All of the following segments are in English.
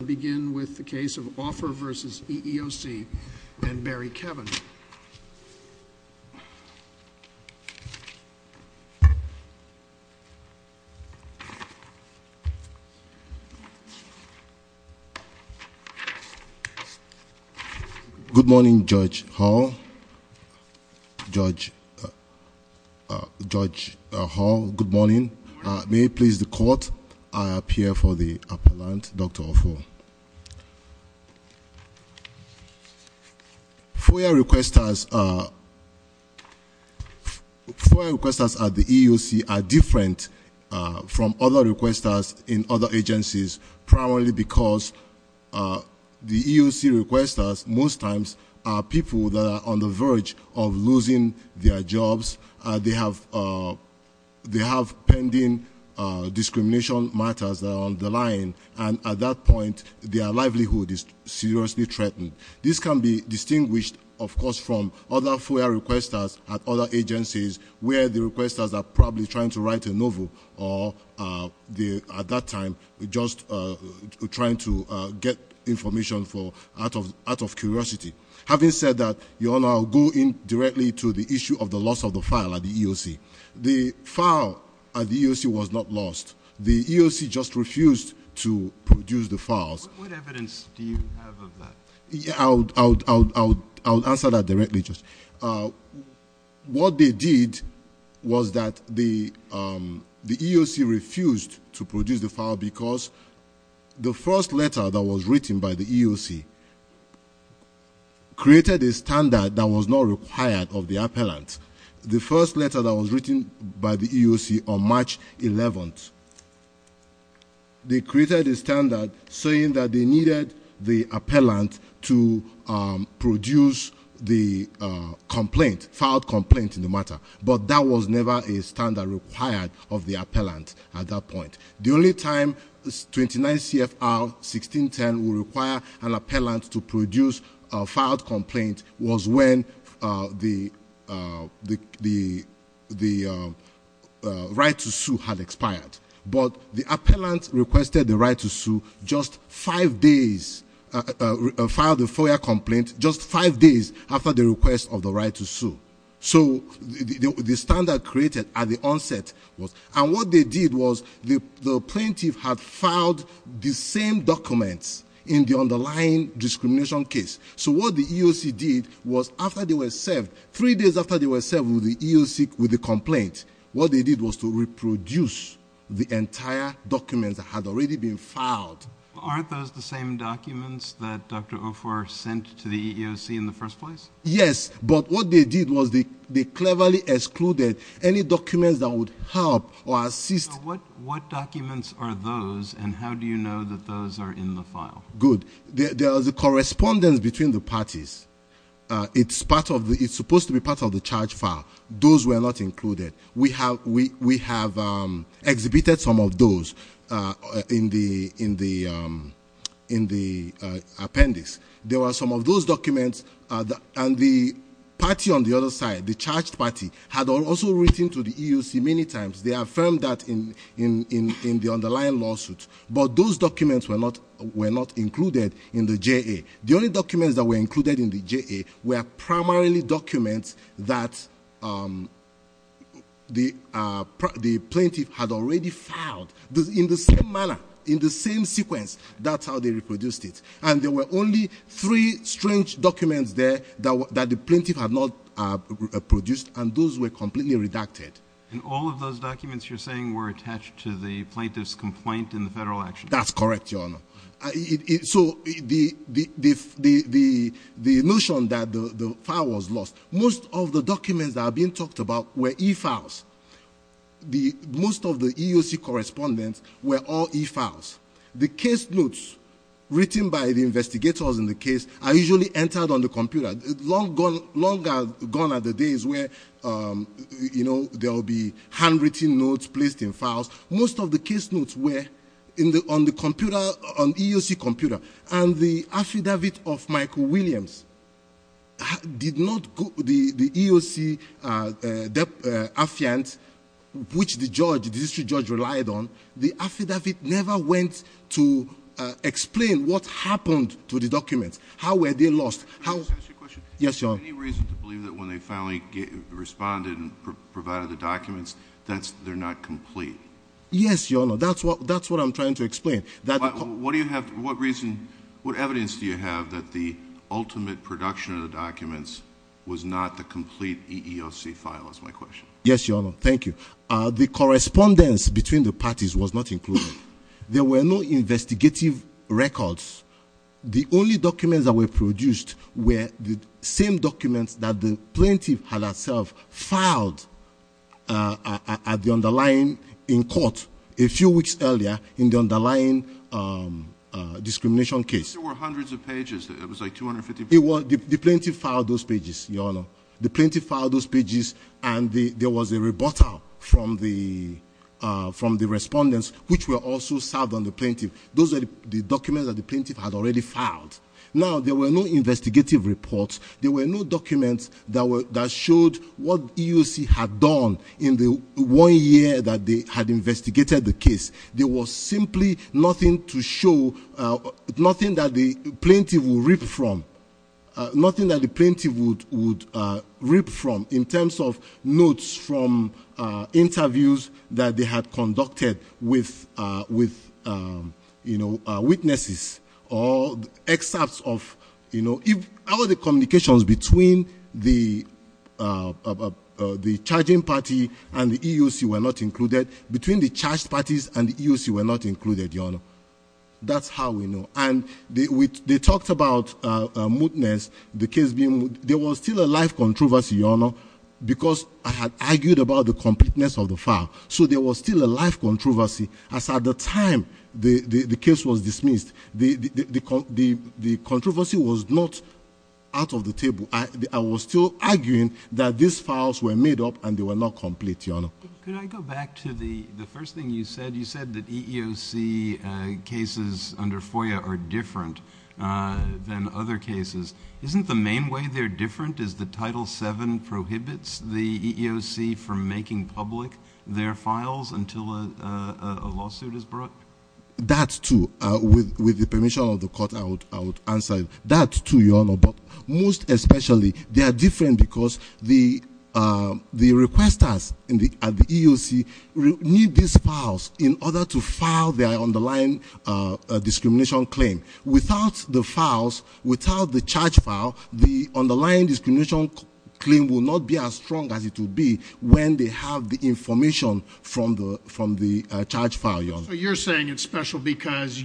We'll begin with the case of Offor v. EEOC and Barry Kevin. Good morning, Judge Hall. Judge... Judge Hall, good morning. May it please the court, I appear for the appellant, Dr. Offor. FOIA requesters... FOIA requesters at the EEOC are different from other requesters in other agencies, primarily because the EEOC requesters, most times, are people that are on the verge of losing their jobs. They have pending discrimination matters that are on the line, and at that point, their livelihood is seriously threatened. This can be distinguished, of course, from other FOIA requesters at other agencies, where the requesters are probably trying to write a novel, or at that time, just trying to get information out of curiosity. Having said that, Your Honor, I'll go in directly to the issue of the loss of the file at the EEOC. The file at the EEOC was not lost. The EEOC just refused to produce the files. What evidence do you have of that? What they did was that the EEOC refused to produce the file because the first letter that was written by the EEOC created a standard that was not required of the appellant. The first letter that was written by the EEOC on March 11th, they created a standard saying that they needed the appellant to produce the filed complaint in the matter, but that was never a standard required of the appellant at that point. The only time 29 CFR 1610 would require an appellant to produce a filed complaint was when the right to sue had expired. But the appellant requested the right to sue just five days after the request of the right to sue. So the standard created at the onset was... And what they did was the plaintiff had filed the same documents in the underlying discrimination case. So what the EEOC did was after they were served, three days after they were served with the complaint, what they did was to reproduce the entire documents that had already been filed. Aren't those the same documents that Dr. Ofor sent to the EEOC in the first place? Yes, but what they did was they cleverly excluded any documents that would help or assist... What documents are those and how do you know that those are in the file? Good. There is a correspondence between the parties. It's supposed to be part of the charge file. Those were not included. We have exhibited some of those in the appendix. There were some of those documents, and the party on the other side, the charged party, had also written to the EEOC many times. They affirmed that in the underlying lawsuit, but those documents were not included in the JA. The only documents that were included in the JA were primarily documents that the plaintiff had already filed. In the same manner, in the same sequence, that's how they reproduced it. And there were only three strange documents there that the plaintiff had not produced, and those were completely redacted. And all of those documents you're saying were attached to the plaintiff's complaint in the federal action? That's correct, Your Honor. So the notion that the file was lost. Most of the documents that are being talked about were e-files. Most of the EEOC correspondence were all e-files. The case notes written by the investigators in the case are usually entered on the computer. Long gone are the days where there will be handwritten notes placed in files. Most of the case notes were on the EEOC computer, and the affidavit of Michael Williams did not go to the EEOC affiant, which the judge, the district judge, relied on. The affidavit never went to explain what happened to the documents, how were they lost. Is there any reason to believe that when they finally responded and provided the documents, they're not complete? Yes, Your Honor. That's what I'm trying to explain. What evidence do you have that the ultimate production of the documents was not the complete EEOC file, is my question. Yes, Your Honor. Thank you. The correspondence between the parties was not included. There were no investigative records. The only documents that were produced were the same documents that the plaintiff had herself filed in court a few weeks earlier in the underlying discrimination case. There were hundreds of pages. It was like 250 pages. The plaintiff filed those pages, Your Honor. The plaintiff filed those pages, and there was a rebuttal from the respondents, which were also served on the plaintiff. Those were the documents that the plaintiff had already filed. Now, there were no investigative reports. There were no documents that showed what EEOC had done in the one year that they had investigated the case. There was simply nothing to show, nothing that the plaintiff would reap from, nothing that the plaintiff would reap from in terms of notes from interviews that they had conducted with witnesses. How are the communications between the charging party and the EEOC were not included? Between the charged parties and the EEOC were not included, Your Honor. That's how we know. They talked about mootness, the case being moot. There was still a life controversy, Your Honor, because I had argued about the completeness of the file. So there was still a life controversy. As at the time the case was dismissed, the controversy was not out of the table. I was still arguing that these files were made up and they were not complete, Your Honor. Could I go back to the first thing you said? You said that EEOC cases under FOIA are different than other cases. Isn't the main way they're different is the Title VII prohibits the EEOC from making public their files until a lawsuit is brought? That, too. With the permission of the court, I would answer that, too, Your Honor. But most especially they are different because the requesters at the EEOC need these files in order to file their underlying discrimination claim. Without the files, without the charge file, the underlying discrimination claim will not be as strong as it would be when they have the information from the charge file, Your Honor. So you're saying it's special because,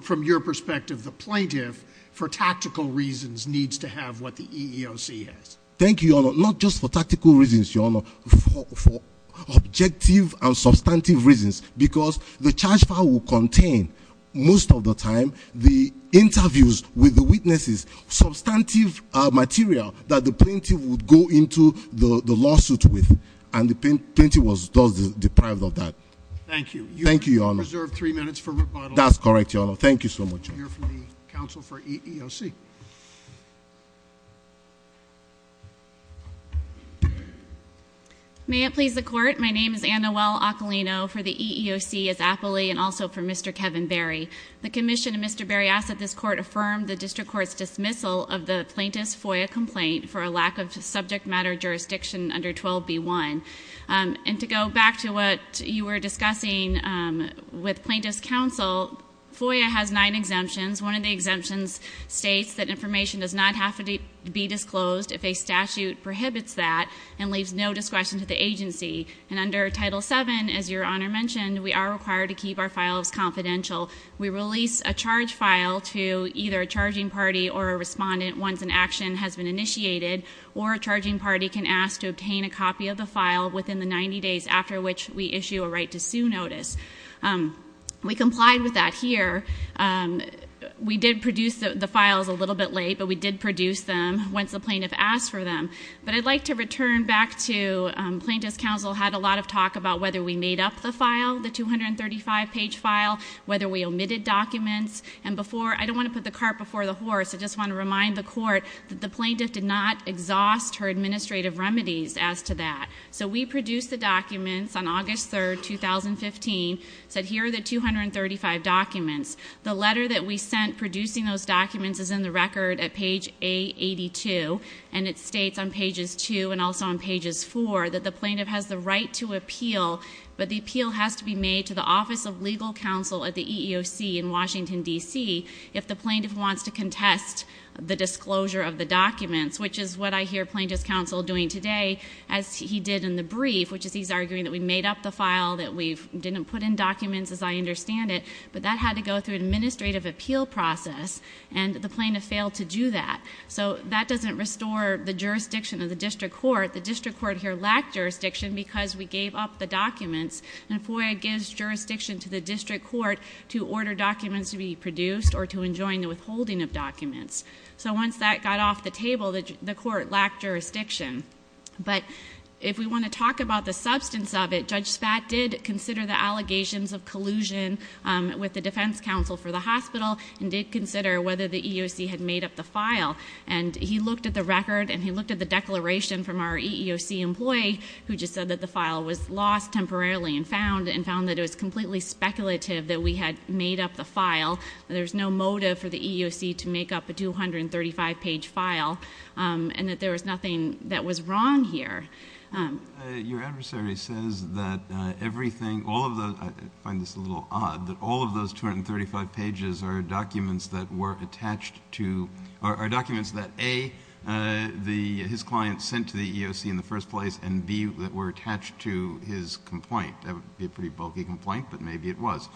from your perspective, the plaintiff, for tactical reasons, needs to have what the EEOC has. Thank you, Your Honor. Not just for tactical reasons, Your Honor. For objective and substantive reasons. Because the charge file will contain, most of the time, the interviews with the witnesses, substantive material that the plaintiff would go into the lawsuit with. And the plaintiff was deprived of that. Thank you. Thank you, Your Honor. You have reserved three minutes for rebuttal. That's correct, Your Honor. Thank you so much. We have a question here from the counsel for EEOC. May it please the court? My name is Annawell Ocolino for the EEOC as aptly, and also for Mr. Kevin Berry. The commission of Mr. Berry asks that this court affirm the district court's dismissal of the plaintiff's FOIA complaint for a lack of subject matter jurisdiction under 12b1. And to go back to what you were discussing with plaintiff's counsel, FOIA has nine exemptions. One of the exemptions states that information does not have to be disclosed if a statute prohibits that and leaves no discretion to the agency. And under Title VII, as Your Honor mentioned, we are required to keep our files confidential. We release a charge file to either a charging party or a respondent once an action has been initiated, or a charging party can ask to obtain a copy of the file within the 90 days after which we issue a right to sue notice. We complied with that here. We did produce the files a little bit late, but we did produce them once the plaintiff asked for them. But I'd like to return back to plaintiff's counsel had a lot of talk about whether we made up the file, the 235 page file, whether we omitted documents. And before, I don't want to put the cart before the horse. I just want to remind the court that the plaintiff did not exhaust her administrative remedies as to that. So we produced the documents on August 3rd, 2015, said here are the 235 documents. The letter that we sent producing those documents is in the record at page A82. And it states on pages two and also on pages four that the plaintiff has the right to appeal, but the appeal has to be made to the Office of Legal Counsel at the EEOC in Washington, D.C. if the plaintiff wants to contest the disclosure of the documents, which is what I hear plaintiff's counsel doing today as he did in the brief, which is he's arguing that we made up the file, that we didn't put in documents as I understand it. But that had to go through administrative appeal process, and the plaintiff failed to do that. So that doesn't restore the jurisdiction of the district court. The district court here lacked jurisdiction because we gave up the documents. And FOIA gives jurisdiction to the district court to order documents to be produced or to enjoin the withholding of documents. So once that got off the table, the court lacked jurisdiction. But if we want to talk about the substance of it, Judge Spat did consider the allegations of collusion with the defense counsel for the hospital, and did consider whether the EEOC had made up the file. And he looked at the record, and he looked at the declaration from our EEOC employee, who just said that the file was lost temporarily and found that it was completely speculative that we had made up the file, that there's no motive for the EEOC to make up a 235-page file, and that there was nothing that was wrong here. Your adversary says that everything, all of the, I find this a little odd, that all of those 235 pages are documents that were attached to, are documents that A, his client sent to the EEOC in the first place, and B, that were attached to his complaint. That would be a pretty bulky complaint, but maybe it was.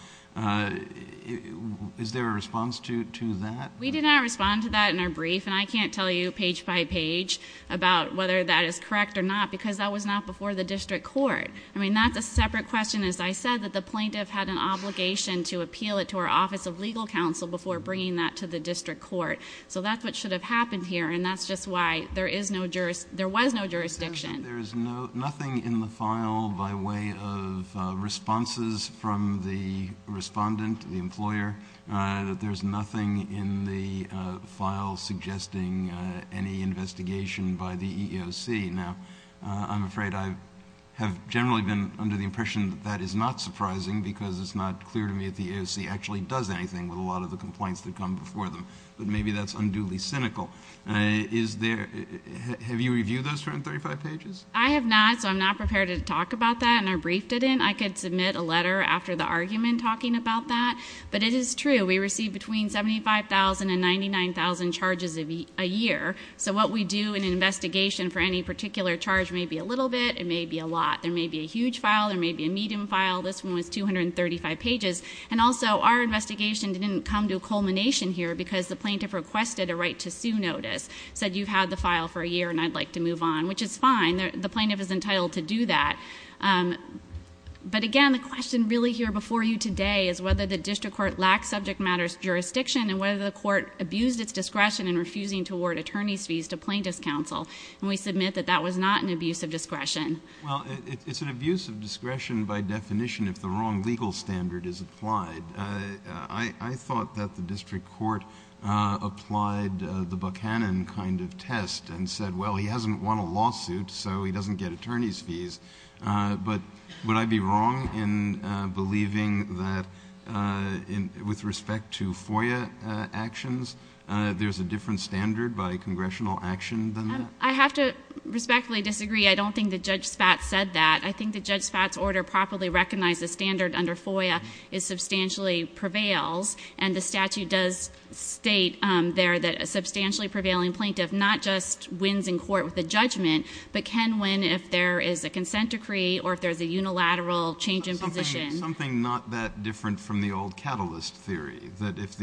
Is there a response to that? We did not respond to that in our brief, and I can't tell you page by page about whether that is correct or not, because that was not before the district court. I mean, that's a separate question. As I said, that the plaintiff had an obligation to appeal it to our office of legal counsel before bringing that to the district court. So that's what should have happened here, and that's just why there was no jurisdiction. There's nothing in the file by way of responses from the respondent, the employer, that there's nothing in the file suggesting any investigation by the EEOC. Now, I'm afraid I have generally been under the impression that that is not surprising, because it's not clear to me that the EEOC actually does anything with a lot of the complaints that come before them, but maybe that's unduly cynical. Have you reviewed those 235 pages? I have not, so I'm not prepared to talk about that, and our brief didn't. I could submit a letter after the argument talking about that, but it is true. We receive between 75,000 and 99,000 charges a year, so what we do in an investigation for any particular charge may be a little bit. It may be a lot. There may be a huge file. There may be a medium file. This one was 235 pages. And also, our investigation didn't come to a culmination here because the plaintiff requested a right to sue notice, said you've had the file for a year and I'd like to move on, which is fine. The plaintiff is entitled to do that. But again, the question really here before you today is whether the district court lacks subject matter jurisdiction and whether the court abused its discretion in refusing to award attorney's fees to plaintiff's counsel, Well, it's an abuse of discretion by definition if the wrong legal standard is applied. I thought that the district court applied the Buchanan kind of test and said, well, he hasn't won a lawsuit, so he doesn't get attorney's fees. But would I be wrong in believing that with respect to FOIA actions, there's a different standard by congressional action than that? I have to respectfully disagree. I don't think that Judge Spatz said that. I think that Judge Spatz's order properly recognized the standard under FOIA substantially prevails, and the statute does state there that a substantially prevailing plaintiff not just wins in court with a judgment but can win if there is a consent decree or if there's a unilateral change in position. Something not that different from the old catalyst theory, that if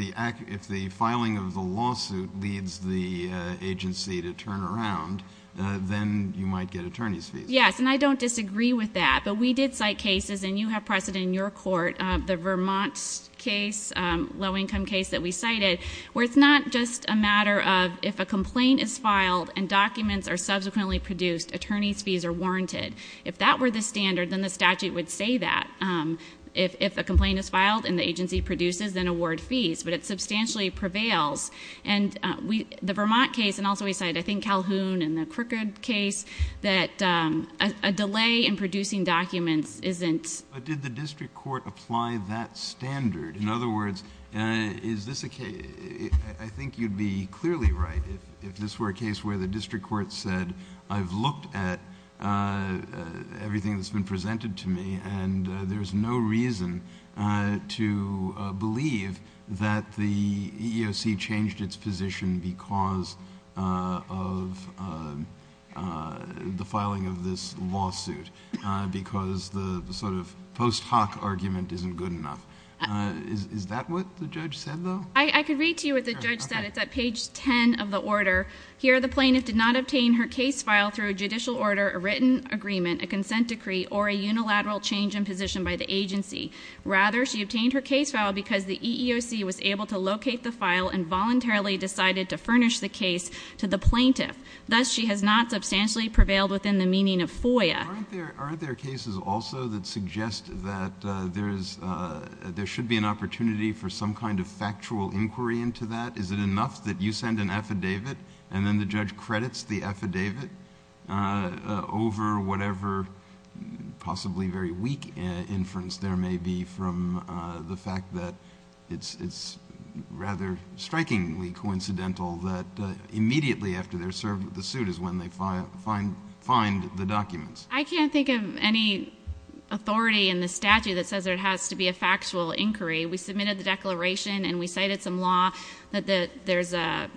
the filing of the lawsuit leads the agency to turn around, then you might get attorney's fees. Yes, and I don't disagree with that. But we did cite cases, and you have pressed it in your court, the Vermont case, low-income case that we cited, where it's not just a matter of if a complaint is filed and documents are subsequently produced, attorney's fees are warranted. If that were the standard, then the statute would say that. If a complaint is filed and the agency produces, then award fees, but it substantially prevails. And the Vermont case, and also we cite, I think, Calhoun and the Crickard case, that a delay in producing documents isn't... But did the district court apply that standard? In other words, is this a case... I think you'd be clearly right if this were a case where the district court said, I've looked at everything that's been presented to me, and there's no reason to believe that the EEOC changed its position because of the filing of this lawsuit, because the sort of post hoc argument isn't good enough. Is that what the judge said, though? I could read to you what the judge said. It's at page 10 of the order. Here, the plaintiff did not obtain her case file through a judicial order, a written agreement, a consent decree, or a unilateral change in position by the agency. Rather, she obtained her case file because the EEOC was able to locate the file and voluntarily decided to furnish the case to the plaintiff. Thus, she has not substantially prevailed within the meaning of FOIA. Aren't there cases also that suggest that there should be an opportunity for some kind of factual inquiry into that? Is it enough that you send an affidavit and then the judge credits the affidavit over whatever possibly very weak inference there may be from the fact that it's rather strikingly coincidental that immediately after they're served with the suit is when they find the documents? I can't think of any authority in the statute that says there has to be a factual inquiry. We submitted the declaration and we cited some law that there's a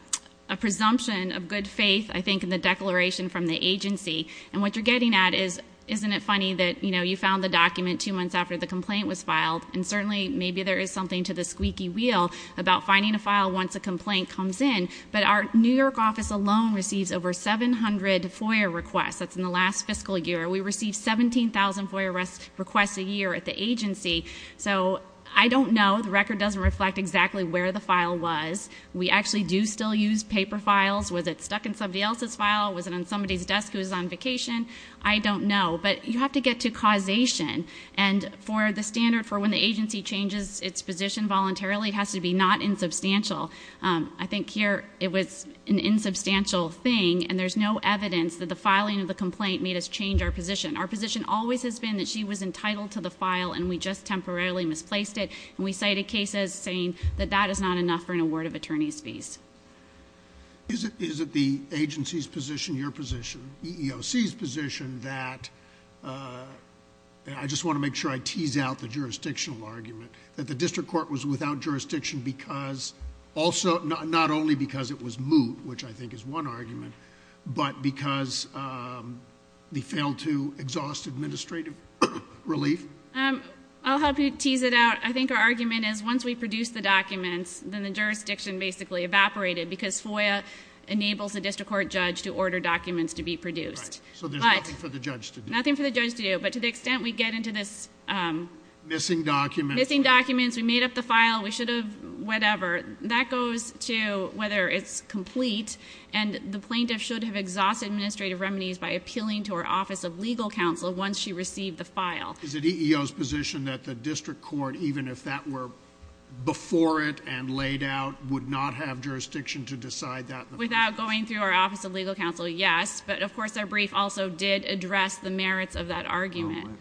presumption of good faith, I think, in the declaration from the agency. And what you're getting at is, isn't it funny that you found the document two months after the complaint was filed? And certainly, maybe there is something to the squeaky wheel about finding a file once a complaint comes in. But our New York office alone receives over 700 FOIA requests. That's in the last fiscal year. We receive 17,000 FOIA requests a year at the agency. So I don't know. The record doesn't reflect exactly where the file was. We actually do still use paper files. Was it stuck in somebody else's file? Was it on somebody's desk who was on vacation? I don't know. But you have to get to causation. And for the standard for when the agency changes its position voluntarily, it has to be not insubstantial. I think here it was an insubstantial thing, and there's no evidence that the filing of the complaint made us change our position. Our position always has been that she was entitled to the file, and we just temporarily misplaced it. And we cited cases saying that that is not enough for an award of attorney's fees. Is it the agency's position, your position, EEOC's position that... I just want to make sure I tease out the jurisdictional argument, that the district court was without jurisdiction because... I'll help you tease it out. I think our argument is once we produce the documents, then the jurisdiction basically evaporated because FOIA enables the district court judge to order documents to be produced. Right. So there's nothing for the judge to do. Nothing for the judge to do. But to the extent we get into this... Missing documents. Missing documents. We made up the file. We should have... whatever. That goes to whether it's complete, and the plaintiff should have exhausted administrative remedies by appealing to our Office of Legal Counsel once she received the file. Is it EEOC's position that the district court, even if that were before it and laid out, would not have jurisdiction to decide that? Without going through our Office of Legal Counsel, yes. But, of course, our brief also did address the merits of that argument.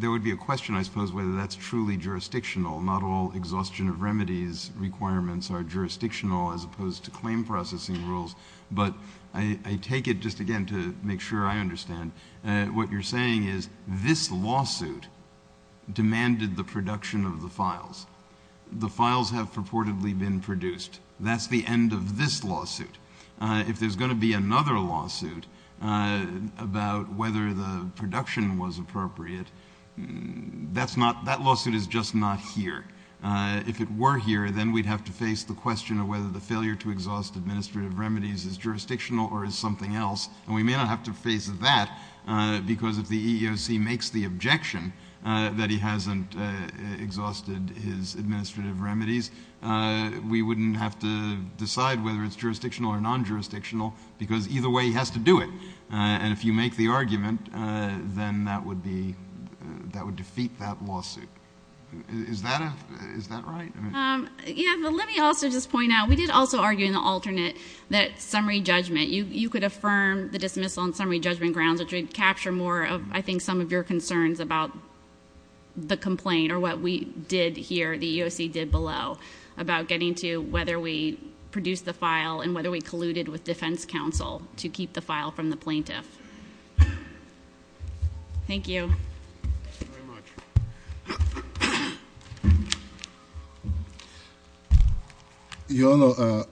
There would be a question, I suppose, whether that's truly jurisdictional. Not all exhaustion of remedies requirements are jurisdictional, as opposed to claim processing rules. But I take it, just again, to make sure I understand. What you're saying is this lawsuit demanded the production of the files. The files have purportedly been produced. That's the end of this lawsuit. If there's going to be another lawsuit about whether the production was appropriate, that lawsuit is just not here. If it were here, then we'd have to face the question of whether the failure to exhaust administrative remedies is jurisdictional or is something else. And we may not have to face that, because if the EEOC makes the objection that he hasn't exhausted his administrative remedies, we wouldn't have to decide whether it's jurisdictional or non-jurisdictional, because either way he has to do it. And if you make the argument, then that would defeat that lawsuit. Is that right? Yeah, but let me also just point out, we did also argue in the alternate that summary judgment, you could affirm the dismissal on summary judgment grounds, I think some of your concerns about the complaint or what we did here, the EEOC did below, about getting to whether we produced the file and whether we colluded with defense counsel to keep the file from the plaintiff. Thank you. Thank you very much. Your Honor,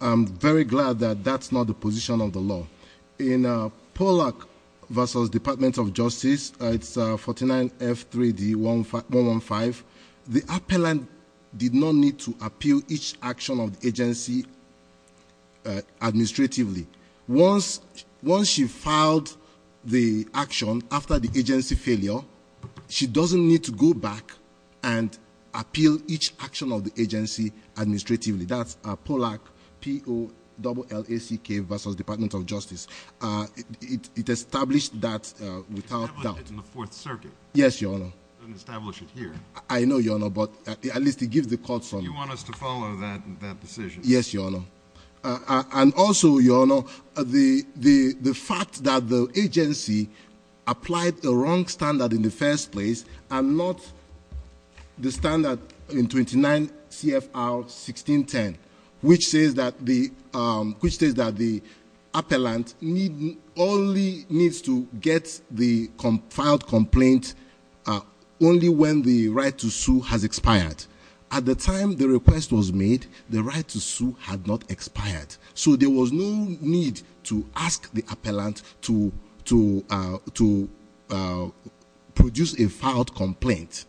I'm very glad that that's not the position of the law. In Pollack v. Department of Justice, it's 49F3D115, the appellant did not need to appeal each action of the agency administratively. Once she filed the action after the agency failure, she doesn't need to go back and appeal each action of the agency administratively. That's Pollack, P-O-L-L-A-C-K v. Department of Justice. It established that without doubt. It's in the Fourth Circuit. Yes, Your Honor. It doesn't establish it here. I know, Your Honor, but at least it gives the court some- You want us to follow that decision. Yes, Your Honor. And also, Your Honor, the fact that the agency applied the wrong standard in the first place and not the standard in 29 CFR 1610, which says that the appellant only needs to get the filed complaint only when the right to sue has expired. At the time the request was made, the right to sue had not expired. So there was no need to ask the appellant to produce a filed complaint.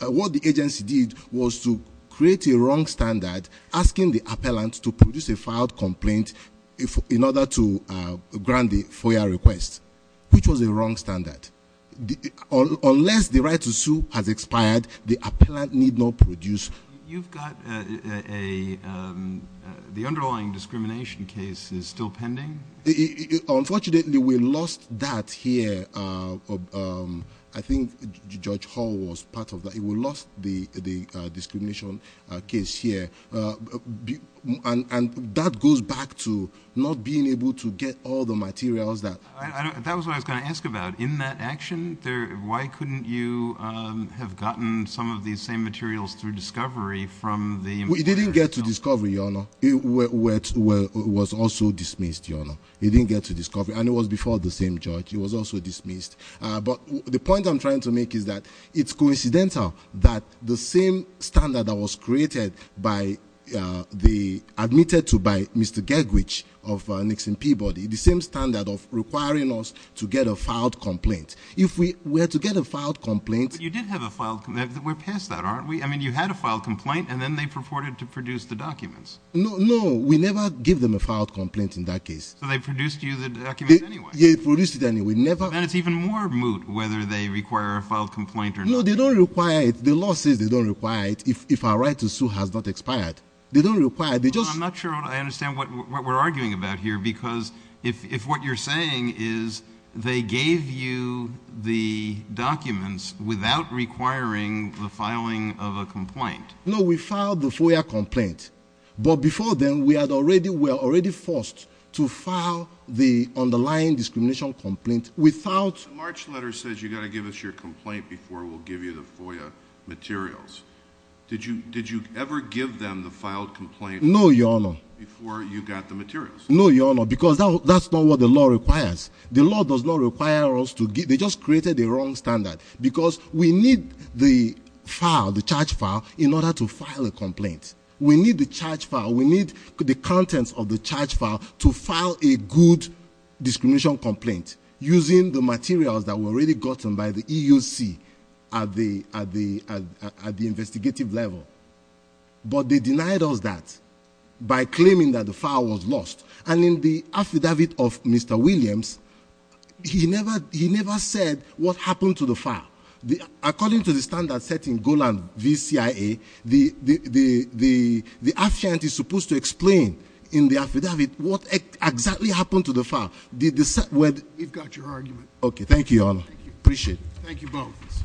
What the agency did was to create a wrong standard asking the appellant to produce a filed complaint in order to grant the FOIA request, which was a wrong standard. Unless the right to sue has expired, the appellant need not produce- You've got a- The underlying discrimination case is still pending? Unfortunately, we lost that here. I think Judge Hall was part of that. We lost the discrimination case here. And that goes back to not being able to get all the materials that- That was what I was going to ask about. In that action, why couldn't you have gotten some of these same materials through discovery from the- We didn't get to discovery, Your Honor. It was also dismissed, Your Honor. We didn't get to discovery. And it was before the same judge. It was also dismissed. But the point I'm trying to make is that it's coincidental that the same standard that was created by the- If we were to get a filed complaint- But you did have a filed complaint. We're past that, aren't we? I mean, you had a filed complaint, and then they purported to produce the documents. No, no. We never give them a filed complaint in that case. So they produced you the documents anyway. Yeah, they produced it anyway. And it's even more moot whether they require a filed complaint or not. No, they don't require it. The law says they don't require it if our right to sue has not expired. They don't require it. I'm not sure I understand what we're arguing about here because if what you're saying is they gave you the documents without requiring the filing of a complaint- No, we filed the FOIA complaint. But before then, we were already forced to file the underlying discrimination complaint without- The March letter says you've got to give us your complaint before we'll give you the FOIA materials. Did you ever give them the filed complaint? No, Your Honor. Before you got the materials? No, Your Honor, because that's not what the law requires. The law does not require us to- They just created the wrong standard because we need the file, the charge file, in order to file a complaint. We need the charge file. We need the contents of the charge file to file a good discrimination complaint using the materials that were already gotten by the EUC at the investigative level. But they denied us that by claiming that the file was lost. And in the affidavit of Mr. Williams, he never said what happened to the file. According to the standard set in Golan v. CIA, the affidavit is supposed to explain in the affidavit what exactly happened to the file. We've got your argument. Okay, thank you, Your Honor. Appreciate it. Thank you both.